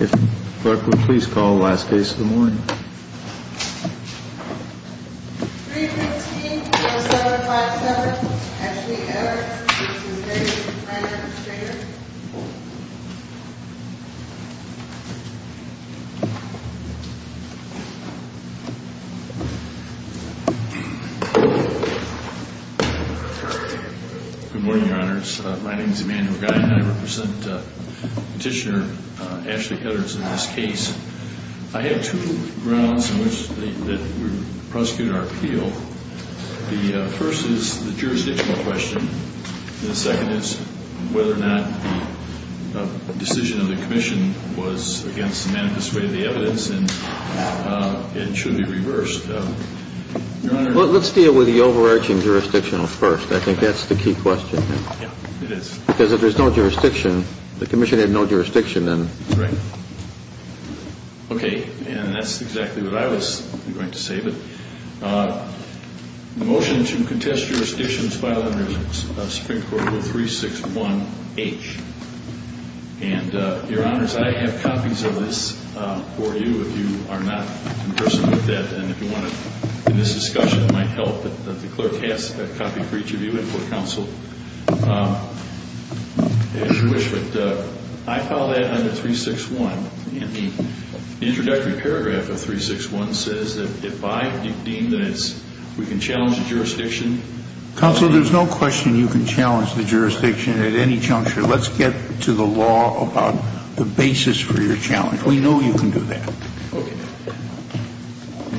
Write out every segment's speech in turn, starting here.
If the clerk would please call the last case of the morning. 315-0757, Ashley Eddards v. David Ryan Shrader. Good morning, Your Honors. My name is Emanuel Guy and I represent Petitioner Ashley Eddards in this case. I have two grounds in which we prosecute our appeal. The first is the jurisdictional question. The second is whether or not the decision of the Commission was against the manifest way of the evidence and it should be reversed. Let's deal with the overarching jurisdictional first. I think that's the key question. Yeah, it is. Because if there's no jurisdiction, the Commission had no jurisdiction then. Correct. Okay, and that's exactly what I was going to say. The motion to contest jurisdiction is filed under Supreme Court Rule 361H. And, Your Honors, I have copies of this for you if you are not in person with that. And if you want to, in this discussion, it might help that the clerk has a copy for each of you and for counsel. I file that under 361 and the introductory paragraph of 361 says that if I deem that we can challenge the jurisdiction. Counsel, there's no question you can challenge the jurisdiction at any juncture. Let's get to the law about the basis for your challenge. We know you can do that. Okay.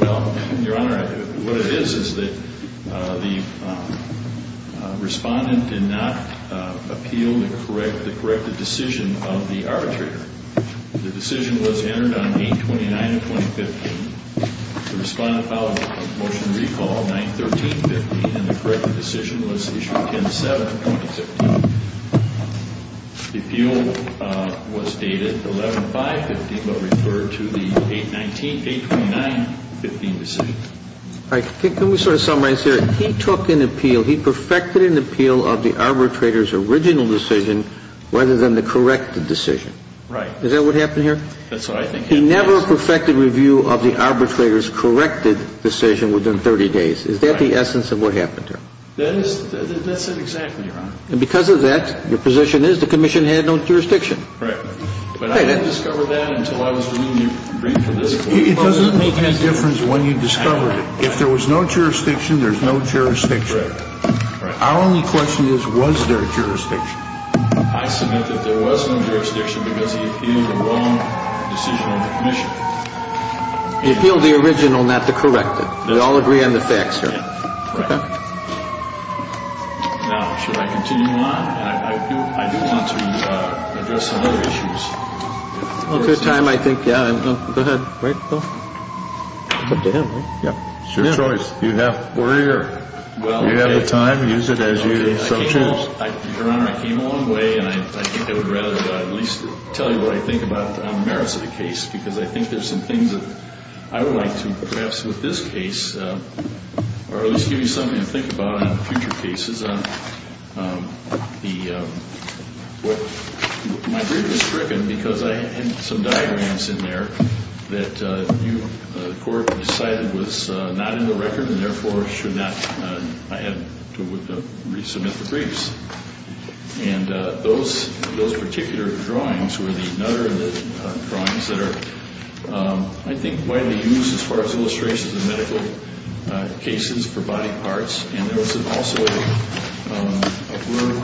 Well, Your Honor, what it is, is that the respondent did not appeal the corrected decision of the arbitrator. The decision was entered on 8-29-2015. The respondent filed a motion to recall 9-13-15 and the corrected decision was issued 10-7-2015. Appeal was dated 11-5-15 but referred to the 8-29-15 decision. All right. Can we sort of summarize here? He took an appeal. He perfected an appeal of the arbitrator's original decision rather than the corrected decision. Right. Is that what happened here? That's what I think happened. He never perfected review of the arbitrator's corrected decision within 30 days. Is that the essence of what happened here? That is. That's it exactly, Your Honor. And because of that, your position is the commission had no jurisdiction. Right. But I didn't discover that until I was reviewing your brief for this court. It doesn't make any difference when you discovered it. If there was no jurisdiction, there's no jurisdiction. Right. Our only question is, was there a jurisdiction? I submit that there was no jurisdiction because he appealed the wrong decision on the commission. He appealed the original, not the corrected. We all agree on the facts here. Right. Okay. Now, should I continue on? I do want to address some other issues. Well, at this time, I think, yeah. Go ahead. Right, Bill. Put it to him, right? Yeah. It's your choice. You have the time. Use it as you so choose. Your Honor, I came a long way, and I think I would rather at least tell you what I think about the merits of the case because I think there's some things that I would like to perhaps with this case or at least give you something to think about on future cases. My brief was stricken because I had some diagrams in there that the court decided was not in the record and therefore should not, I had to resubmit the briefs. And those particular drawings were the Nutter drawings that are, I think, widely used as far as illustrations of medical cases for body parts, and there was also a work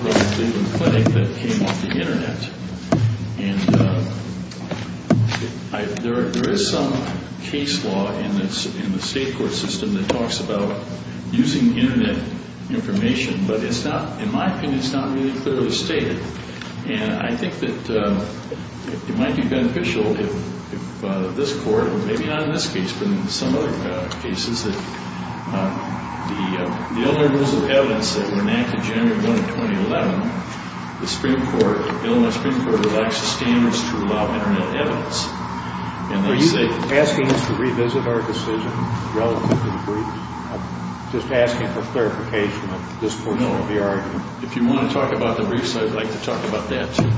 by Cleveland Clinic that came off the Internet. And there is some case law in the state court system that talks about using Internet information, but it's not, in my opinion, it's not really clearly stated. And I think that it might be beneficial if this court, or maybe not in this case, but in some other cases, that the Illinois Rules of Evidence that were enacted January 1 of 2011, the Illinois Supreme Court relaxed the standards to allow Internet evidence. Are you asking us to revisit our decision relative to the briefs? I'm just asking for clarification of this portion of the argument. If you want to talk about the briefs, I'd like to talk about that, too.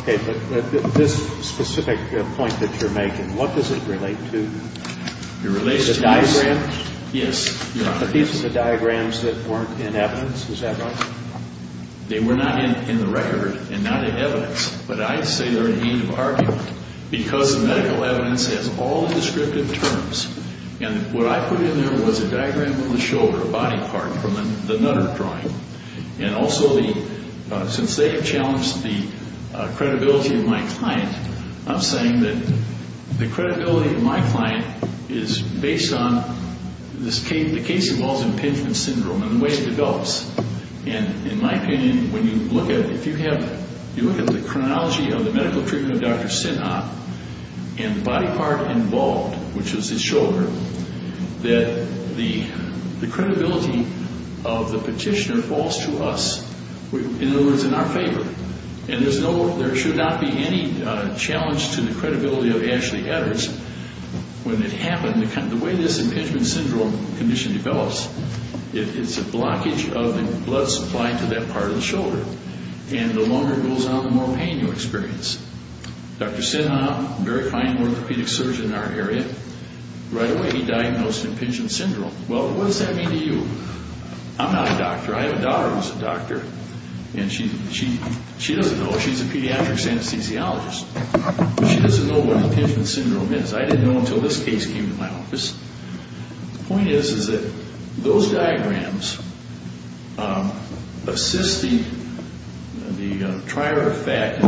Okay. But this specific point that you're making, what does it relate to? It relates to the diagrams? Yes. But these are the diagrams that weren't in evidence. Is that right? They were not in the record and not in evidence, but I'd say they're in need of argument because the medical evidence has all the descriptive terms. And what I put in there was a diagram of the shoulder body part from the Nutter drawing and also, since they have challenged the credibility of my client, I'm saying that the credibility of my client is based on the case-involved impingement syndrome and the way it develops. And in my opinion, if you look at the chronology of the medical treatment of Dr. Sinha and the body part involved, which is his shoulder, that the credibility of the petitioner falls to us, in other words, in our favor. And there should not be any challenge to the credibility of Ashley Evers. When it happened, the way this impingement syndrome condition develops, it's a blockage of the blood supply to that part of the shoulder. And the longer it goes on, the more pain you experience. Dr. Sinha, a very fine orthopedic surgeon in our area, right away he diagnosed impingement syndrome. Well, what does that mean to you? I'm not a doctor. I have a daughter who's a doctor, and she doesn't know. She's a pediatric anesthesiologist. She doesn't know what impingement syndrome is. I didn't know until this case came to my office. The point is that those diagrams assist the trier effect.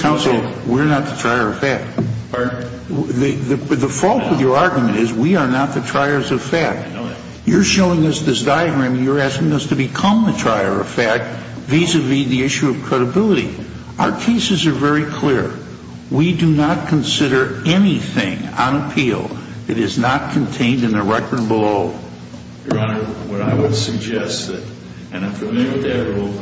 Counsel, we're not the trier effect. The fault with your argument is we are not the triers effect. You're showing us this diagram, and you're asking us to become the trier effect, vis-a-vis the issue of credibility. Our cases are very clear. We do not consider anything on appeal that is not contained in the record below. Your Honor, what I would suggest, and I'm familiar with that rule,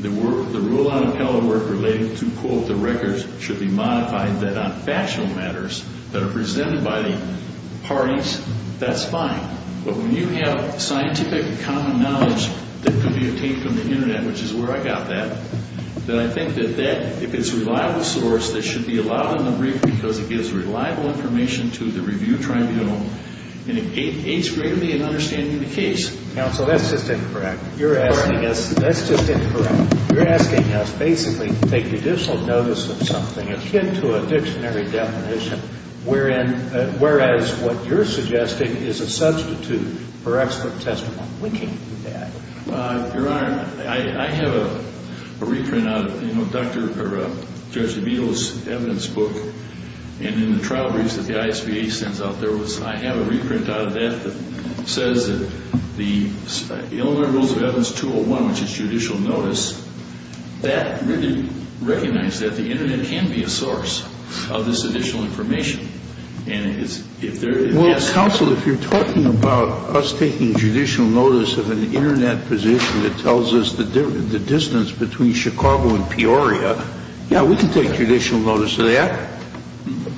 the rule on appellate work related to, quote, the records, should be modified that on factional matters that are presented by the parties, that's fine. But when you have scientific common knowledge that could be obtained from the Internet, which is where I got that, then I think that if it's a reliable source, that should be allowed in the brief because it gives reliable information to the review tribunal, and it aids greatly in understanding the case. Counsel, that's just incorrect. You're asking us, that's just incorrect. You're asking us basically to take additional notice of something akin to a dictionary definition, whereas what you're suggesting is a substitute for excellent testimony. We can't do that. Your Honor, I have a reprint out of, you know, Judge DeVito's evidence book, and in the trial briefs that the ISVA sends out, I have a reprint out of that that says that the Illinois Rules of Evidence 201, which is judicial notice, that really recognizes that the Internet can be a source of this additional information. And if there is ‑‑ Well, counsel, if you're talking about us taking judicial notice of an Internet position that tells us the distance between Chicago and Peoria, yeah, we can take judicial notice of that.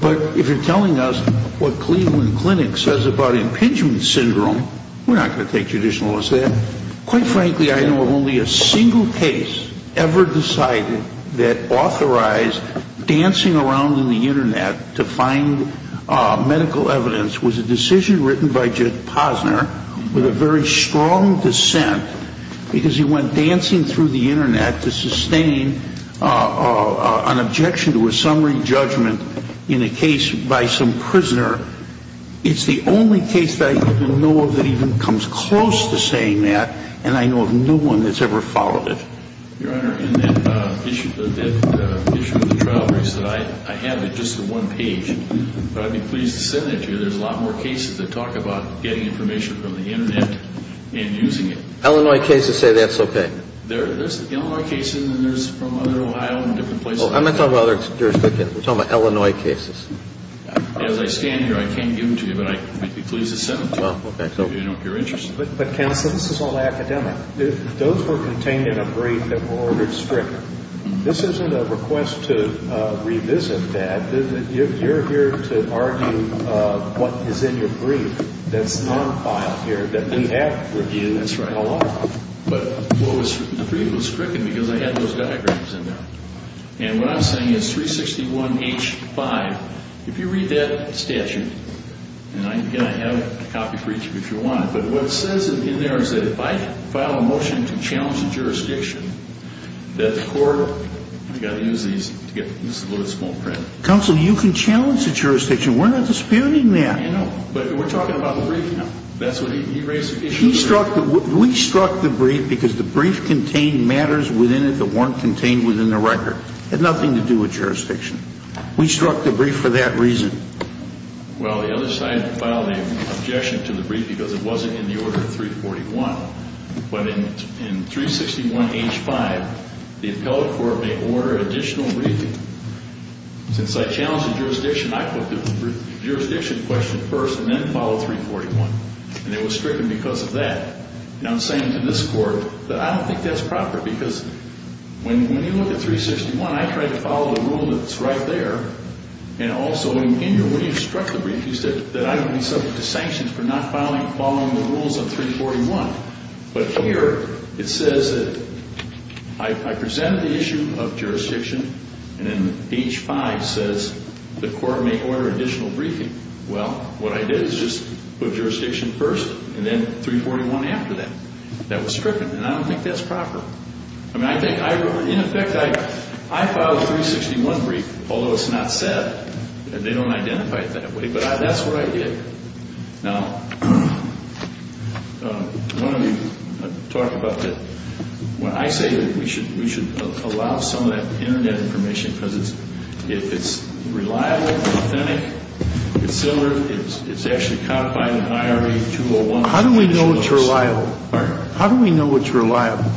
But if you're telling us what Cleveland Clinic says about impingement syndrome, we're not going to take judicial notice of that. Quite frankly, I know of only a single case ever decided that authorized dancing around in the Internet to find medical evidence was a decision written by Judge Posner with a very strong dissent because he went dancing through the Internet to sustain an objection to a summary judgment in a case by some prisoner. It's the only case that I even know of that even comes close to saying that, and I know of no one that's ever followed it. Your Honor, in that issue of the trial briefs that I have, it's just the one page, but I'd be pleased to send it to you. There's a lot more cases that talk about getting information from the Internet and using it. Illinois cases say that's okay. There's Illinois cases and there's from other Ohio and different places. I'm not talking about other jurisdictions. We're talking about Illinois cases. As I stand here, I can't give them to you, but I'd be pleased to send them to you if you're interested. But, counsel, this is all academic. If those were contained in a brief that were ordered strictly, this isn't a request to revisit that. You're here to argue what is in your brief that's non-filed here that we have reviewed. That's right. But the brief was stricken because I had those diagrams in there. And what I'm saying is 361H5, if you read that statute, and again, I have a copy for each of you if you want, but what it says in there is that if I file a motion to challenge the jurisdiction, that the court, I've got to use these to get a little bit of small print. Counsel, you can challenge the jurisdiction. We're not disputing that. I know, but we're talking about the brief now. That's what he raised the issue of. We struck the brief because the brief contained matters within it that weren't contained within the record. It had nothing to do with jurisdiction. We struck the brief for that reason. Well, the other side filed an objection to the brief because it wasn't in the order 341. But in 361H5, the appellate court may order additional briefing. Since I challenged the jurisdiction, I put the jurisdiction question first and then filed 341, and it was stricken because of that. And I'm saying to this court that I don't think that's proper because when you look at 361, I tried to follow the rule that's right there, and also in your, when you struck the brief, you said that I would be subject to sanctions for not following the rules of 341. But here it says that I present the issue of jurisdiction, and then H5 says the court may order additional briefing. Well, what I did is just put jurisdiction first and then 341 after that. That was stricken, and I don't think that's proper. I mean, I think, in effect, I filed a 361 brief, although it's not said, and they don't identify it that way, but that's what I did. Now, one of the, I'm talking about the, when I say that we should allow some of that Internet information because if it's reliable, authentic, it's silver, it's actually codified in IRE 201. How do we know it's reliable? Pardon? How do we know it's reliable?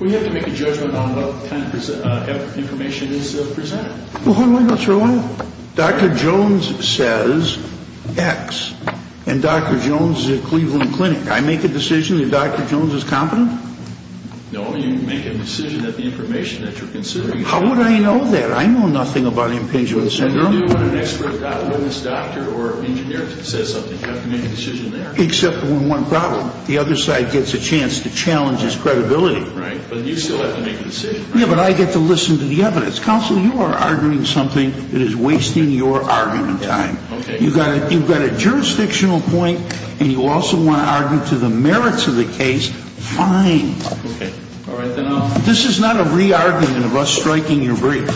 We have to make a judgment on what kind of information is presented. Well, how do I know it's reliable? Well, Dr. Jones says X, and Dr. Jones is at Cleveland Clinic. I make a decision that Dr. Jones is competent? No, you make a decision that the information that you're considering is reliable. How would I know that? I know nothing about impingement syndrome. Well, you do when an expert eyewitness doctor or engineer says something. You have to make a decision there. Except for one problem. The other side gets a chance to challenge his credibility. Right, but you still have to make a decision. Yeah, but I get to listen to the evidence. Counsel, you are arguing something that is wasting your argument time. Okay. You've got a jurisdictional point, and you also want to argue to the merits of the case. Fine. Okay. This is not a re-argument of us striking your brief.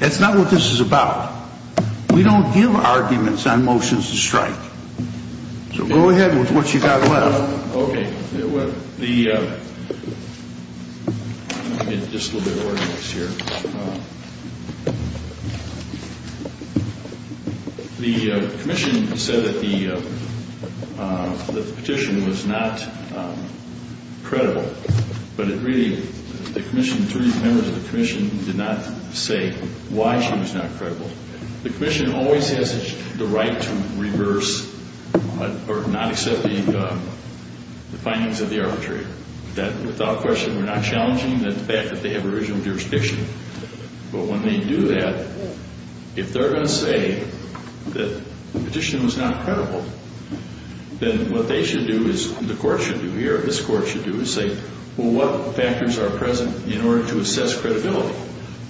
That's not what this is about. We don't give arguments on motions to strike. So go ahead with what you've got left. Okay. The commission said that the petition was not credible, but it really, the three members of the commission did not say why she was not credible. The commission always has the right to reverse or not accept the findings of the arbitrator. Without question, we're not challenging the fact that they have original jurisdiction. But when they do that, if they're going to say that the petition was not credible, then what they should do is, the court should do here, this court should do, is say, well, what factors are present in order to assess credibility?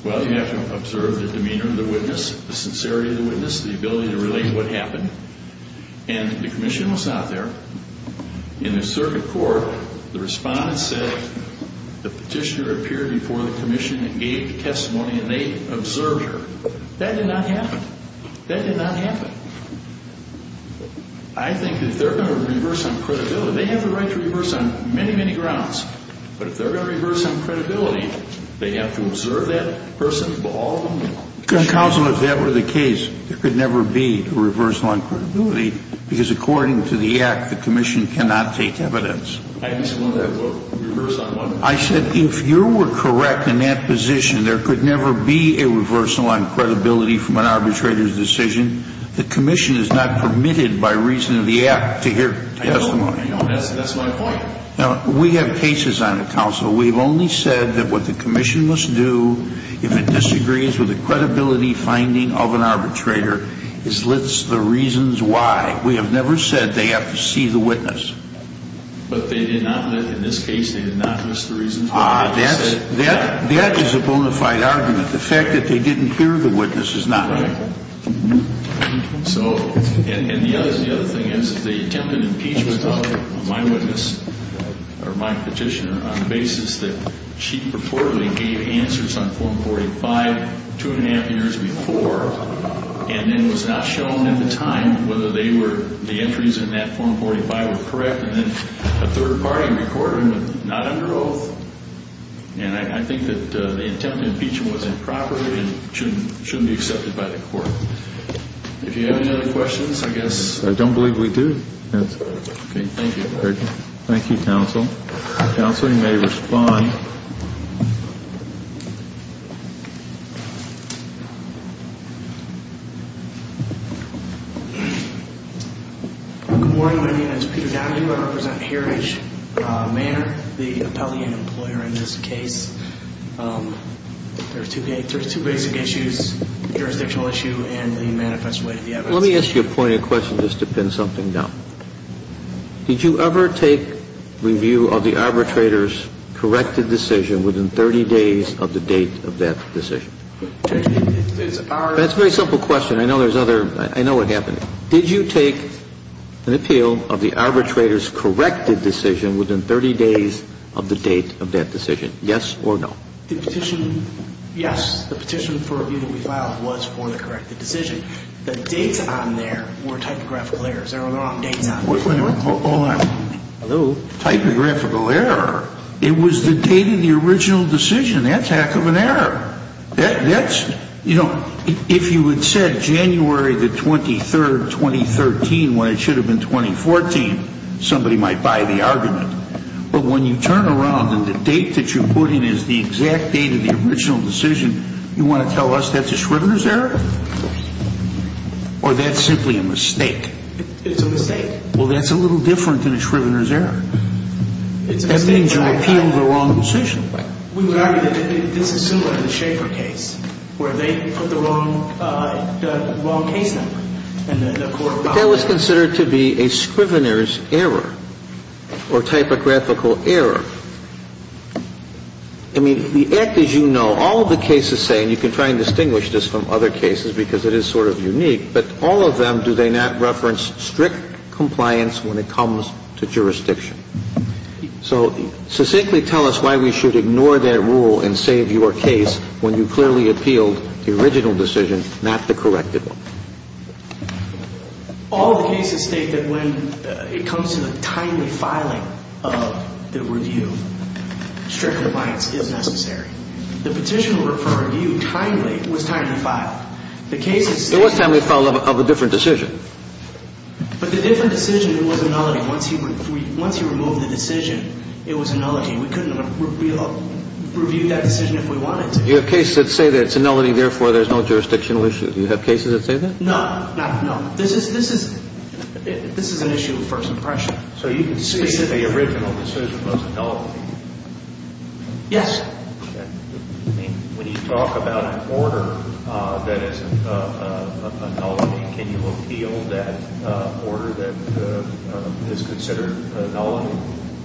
Well, you have to observe the demeanor of the witness, the sincerity of the witness, the ability to relate to what happened, and the commission was not there. In the circuit court, the respondent said the petitioner appeared before the commission and gave the testimony, and they observed her. That did not happen. That did not happen. I think that if they're going to reverse on credibility, they have the right to reverse on many, many grounds. But if they're going to reverse on credibility, they have to observe that person, all of them. Counsel, if that were the case, there could never be a reversal on credibility because according to the Act, the commission cannot take evidence. I just want to reverse on one point. I said if you were correct in that position, there could never be a reversal on credibility from an arbitrator's decision. The commission is not permitted by reason of the Act to hear testimony. That's my point. Now, we have cases on the council. We've only said that what the commission must do if it disagrees with the credibility finding of an arbitrator is list the reasons why. We have never said they have to see the witness. But they did not list, in this case, they did not list the reasons why. That is a bona fide argument. The fact that they didn't hear the witness is not. Right. So, and the other thing is the attempted impeachment of my witness, or my petitioner, on the basis that she purportedly gave answers on Form 45 two and a half years before and then was not shown at the time whether they were, the entries in that Form 45 were correct and then a third party recorded them not under oath. And I think that the attempted impeachment was improper and shouldn't be accepted by the court. If you have any other questions, I guess... I don't believe we do. Okay, thank you. Thank you, counsel. Counsel, you may respond. Good morning. My name is Peter Downing. I represent Heritage. Mayor, the appellee and employer in this case, there are two basic issues, the jurisdictional issue and the manifest way to the evidence. Let me ask you a point of question just to pin something down. Did you ever take review of the arbitrator's corrected decision within 30 days of the date of that decision? That's a very simple question. I know there's other, I know what happened. Did you take an appeal of the arbitrator's corrected decision within 30 days of the date of that decision? Yes or no? The petition, yes. The petition for review that we filed was for the corrected decision. The dates on there were typographical errors. There were wrong dates on there. Hold on. Hello? Typographical error? It was the date of the original decision. That's heck of an error. That's, you know, if you had said January the 23rd, 2013 when it should have been 2014, somebody might buy the argument. But when you turn around and the date that you put in is the exact date of the original decision, you want to tell us that's a Schrivener's error? Yes. Or that's simply a mistake? It's a mistake. Well, that's a little different than a Schrivener's error. It's a mistake. That means you appealed the wrong decision. We would argue that this is similar to the Schaefer case where they put the wrong case number. But that was considered to be a Scrivener's error or typographical error. I mean, the act, as you know, all of the cases say, and you can try and distinguish this from other cases because it is sort of unique, but all of them, do they not reference strict compliance when it comes to jurisdiction? So succinctly tell us why we should ignore their rule and save your case when you clearly appealed the original decision, not the corrected one. All of the cases state that when it comes to the timely filing of the review, strict compliance is necessary. The petition for review timely, was timely filed. The cases say that. It was timely filed of a different decision. But the different decision was a nullity. Once he removed the decision, it was a nullity. We couldn't review that decision if we wanted to. Do you have cases that say that it's a nullity, therefore there's no jurisdictional issue? Do you have cases that say that? No. Not at all. This is an issue of first impression. So you can say that the original decision was a nullity? Yes. When you talk about an order that is a nullity, can you appeal that order that is considered a nullity?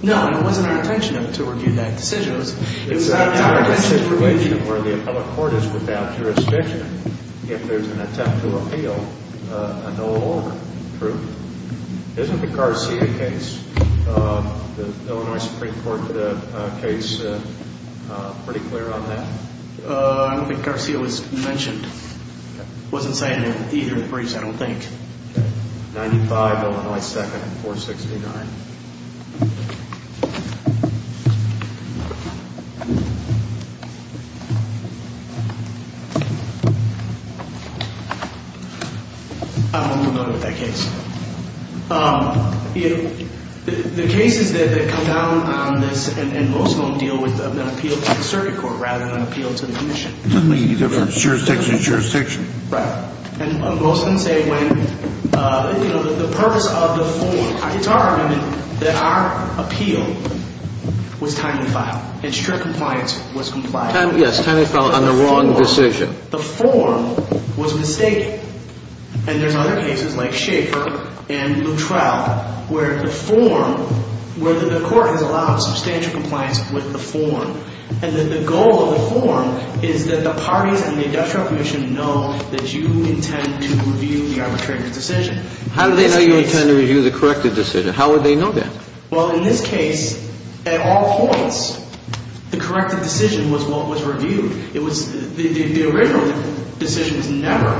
No. It wasn't our intention to review that decision. It was our target. It's a situation where the public court is without jurisdiction if there's an attempt to appeal a null order. True. Isn't the Garcia case, the Illinois Supreme Court case, pretty clear on that? I don't think Garcia was mentioned. It wasn't cited in either of the briefs, I don't think. Okay. 95 Illinois 2nd and 469. I don't know about that case. The cases that come down on this, and most of them deal with an appeal to the circuit court rather than an appeal to the commission. It doesn't mean either jurisdiction is jurisdiction. Right. And most of them say when, you know, the purpose of the form, it's our argument that our appeal was timely filed. And strict compliance was complied with. Yes, timely filed on the wrong decision. The form was mistaken. And there's other cases like Schaefer and Luttrell where the form, where the court has allowed substantial compliance with the form. And the goal of the form is that the parties in the industrial commission know that you intend to review the arbitrated decision. How do they know you intend to review the corrected decision? How would they know that? Well, in this case, at all points, the corrected decision was what was reviewed. It was the original decision was never.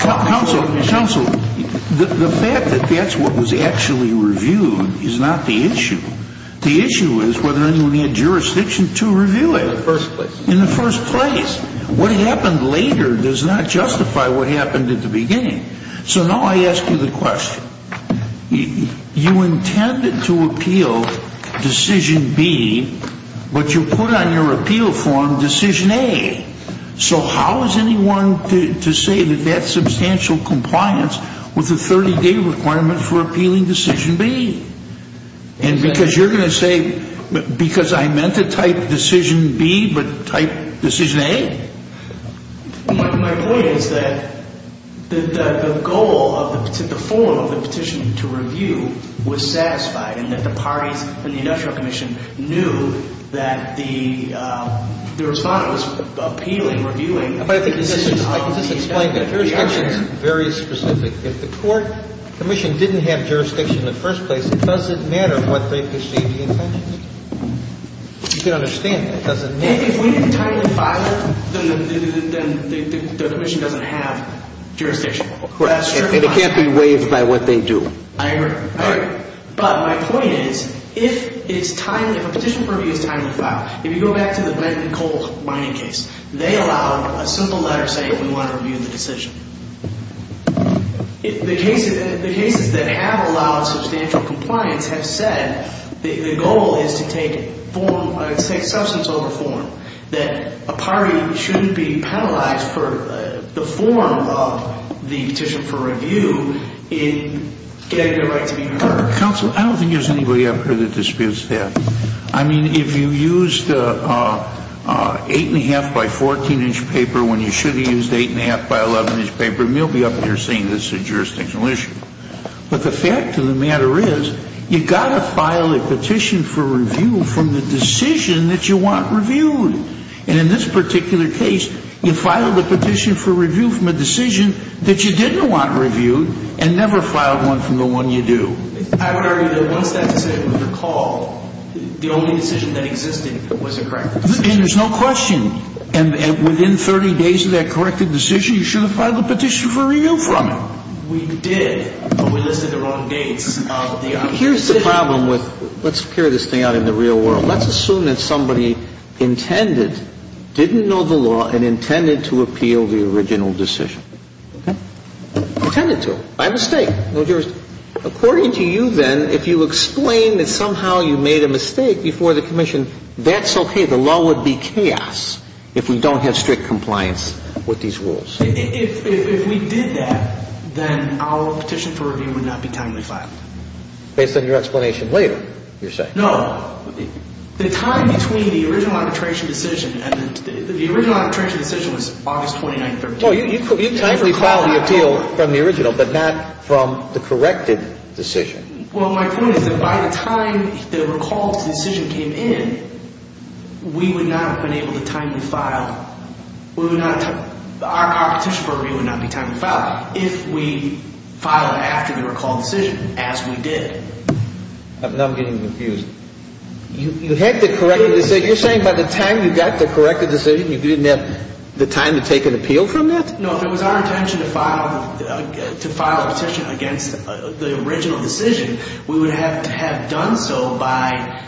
Counsel, the fact that that's what was actually reviewed is not the issue. The issue is whether anyone had jurisdiction to review it. In the first place. In the first place. What happened later does not justify what happened at the beginning. So now I ask you the question. You intended to appeal decision B, but you put on your appeal form decision A. So how is anyone to say that that's substantial compliance with the 30-day requirement for appealing decision B? And because you're going to say, because I meant to type decision B, but type decision A? My point is that the goal of the form of the petition to review was satisfied and that the parties in the industrial commission knew that the respondent was appealing, reviewing. I can just explain that. Jurisdiction is very specific. If the court commission didn't have jurisdiction in the first place, it doesn't matter what they perceive the intentions. You can understand that. It doesn't matter. If we didn't time the filer, then the commission doesn't have jurisdiction. And it can't be waived by what they do. I agree. I agree. But my point is, if it's timely, if a petition for review is timely to file, if you go back to the Blanton and Cole mining case, they allowed a simple letter saying we want to review the decision. The cases that have allowed substantial compliance have said the goal is to take substance over form, that a party shouldn't be penalized for the form of the petition for review in getting their right to be reviewed. Counsel, I don't think there's anybody up here that disputes that. I mean, if you used 8 1⁄2 by 14-inch paper when you should have used 8 1⁄2 by 11-inch paper, you'll be up here saying this is a jurisdictional issue. But the fact of the matter is, you've got to file a petition for review from the decision that you want reviewed. And in this particular case, you filed a petition for review from a decision that you didn't want reviewed and never filed one from the one you do. I would argue that once that decision was recalled, the only decision that existed was a corrected decision. And there's no question. And within 30 days of that corrected decision, you should have filed a petition for review from it. We did, but we listed the wrong dates. Here's the problem with – let's carry this thing out in the real world. Let's assume that somebody intended, didn't know the law, and intended to appeal the original decision. Okay? Intended to. By mistake. No jurisdiction. According to you, then, if you explain that somehow you made a mistake before the commission, that's okay. The law would be chaos if we don't have strict compliance with these rules. If we did that, then our petition for review would not be timely filed. Based on your explanation later, you're saying. No. The time between the original arbitration decision and the – the original arbitration decision was August 29th, 2013. No, you timely filed the appeal from the original, but not from the corrected decision. Well, my point is that by the time the recall decision came in, we would not have been able to timely file – we would not – our petition for review would not be timely filed if we filed after the recall decision, as we did. Now I'm getting confused. You had the corrected – you're saying by the time you got the corrected decision, you didn't have the time to take an appeal from that? No. If it was our intention to file – to file a petition against the original decision, we would have to have done so by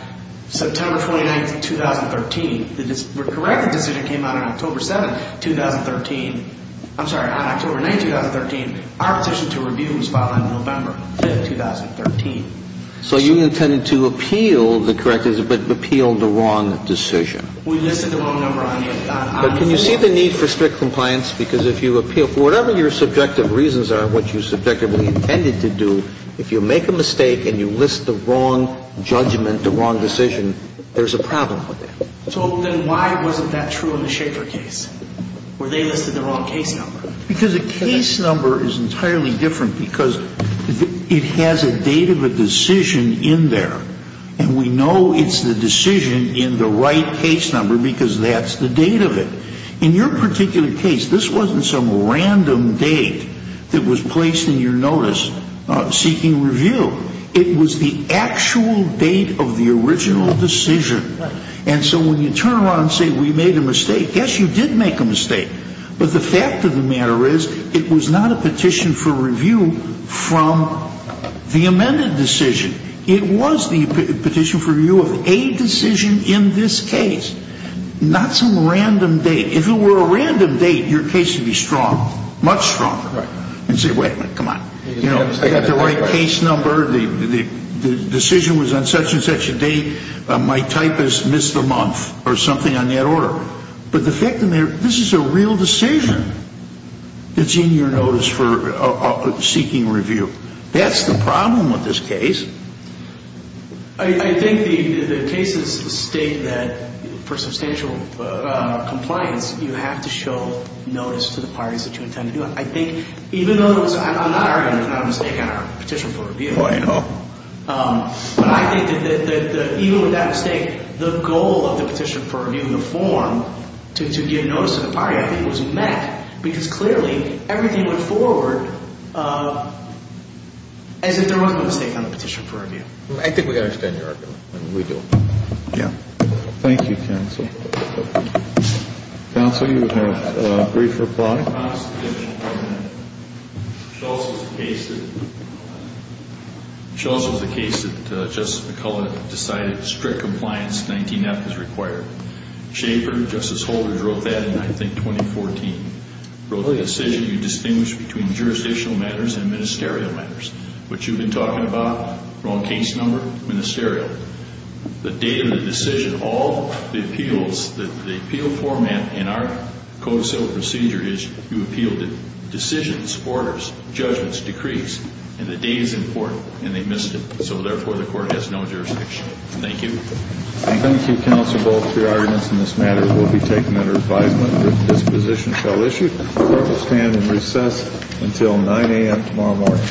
September 29th, 2013. The corrected decision came out on October 7th, 2013. I'm sorry, on October 9th, 2013. Our petition to review was filed on November 5th, 2013. So you intended to appeal the corrected, but appealed the wrong decision. We listed the wrong number on the – But can you see the need for strict compliance? Because if you appeal for whatever your subjective reasons are, what you subjectively intended to do, if you make a mistake and you list the wrong judgment, the wrong decision, there's a problem with that. So then why wasn't that true in the Schaeffer case, where they listed the wrong case number? Because the case number is entirely different because it has a date of a decision in there, and we know it's the decision in the right case number because that's the date of it. In your particular case, this wasn't some random date that was placed in your notice seeking review. It was the actual date of the original decision. And so when you turn around and say we made a mistake, yes, you did make a mistake, but the fact of the matter is it was not a petition for review from the amended decision. It was the petition for review of a decision in this case, not some random date. If it were a random date, your case would be strong, much stronger, and say wait a minute, come on. You know, I got the right case number. The decision was on such and such a date. My typist missed the month or something on that order. But the fact of the matter, this is a real decision that's in your notice for seeking review. That's the problem with this case. I think the cases state that for substantial compliance, you have to show notice to the parties that you intend to do it. I think even though it was not a mistake on our petition for review, but I think that even with that mistake, the goal of the petition for review, the form to give notice to the party, I think was met because clearly everything went forward as if there was no mistake on the petition for review. I think we understand your argument, and we do. Yeah. Thank you, counsel. Counsel, you have a brief reply. In the Constitution, Shultz was a case that Justice McCullough decided strict compliance, 19F, is required. Schaefer, Justice Holder, wrote that in, I think, 2014. Wrote a decision you distinguish between jurisdictional matters and ministerial matters. What you've been talking about, wrong case number, ministerial. The date of the decision, all the appeals, the appeal format in our code of civil procedure is you appeal the decisions, orders, judgments, decrees, and the date is important, and they missed it. So, therefore, the court has no jurisdiction. Thank you. Thank you, counsel. Both your arguments in this matter will be taken under advisement. This position shall issue. The court will stand in recess until 9 a.m. tomorrow morning.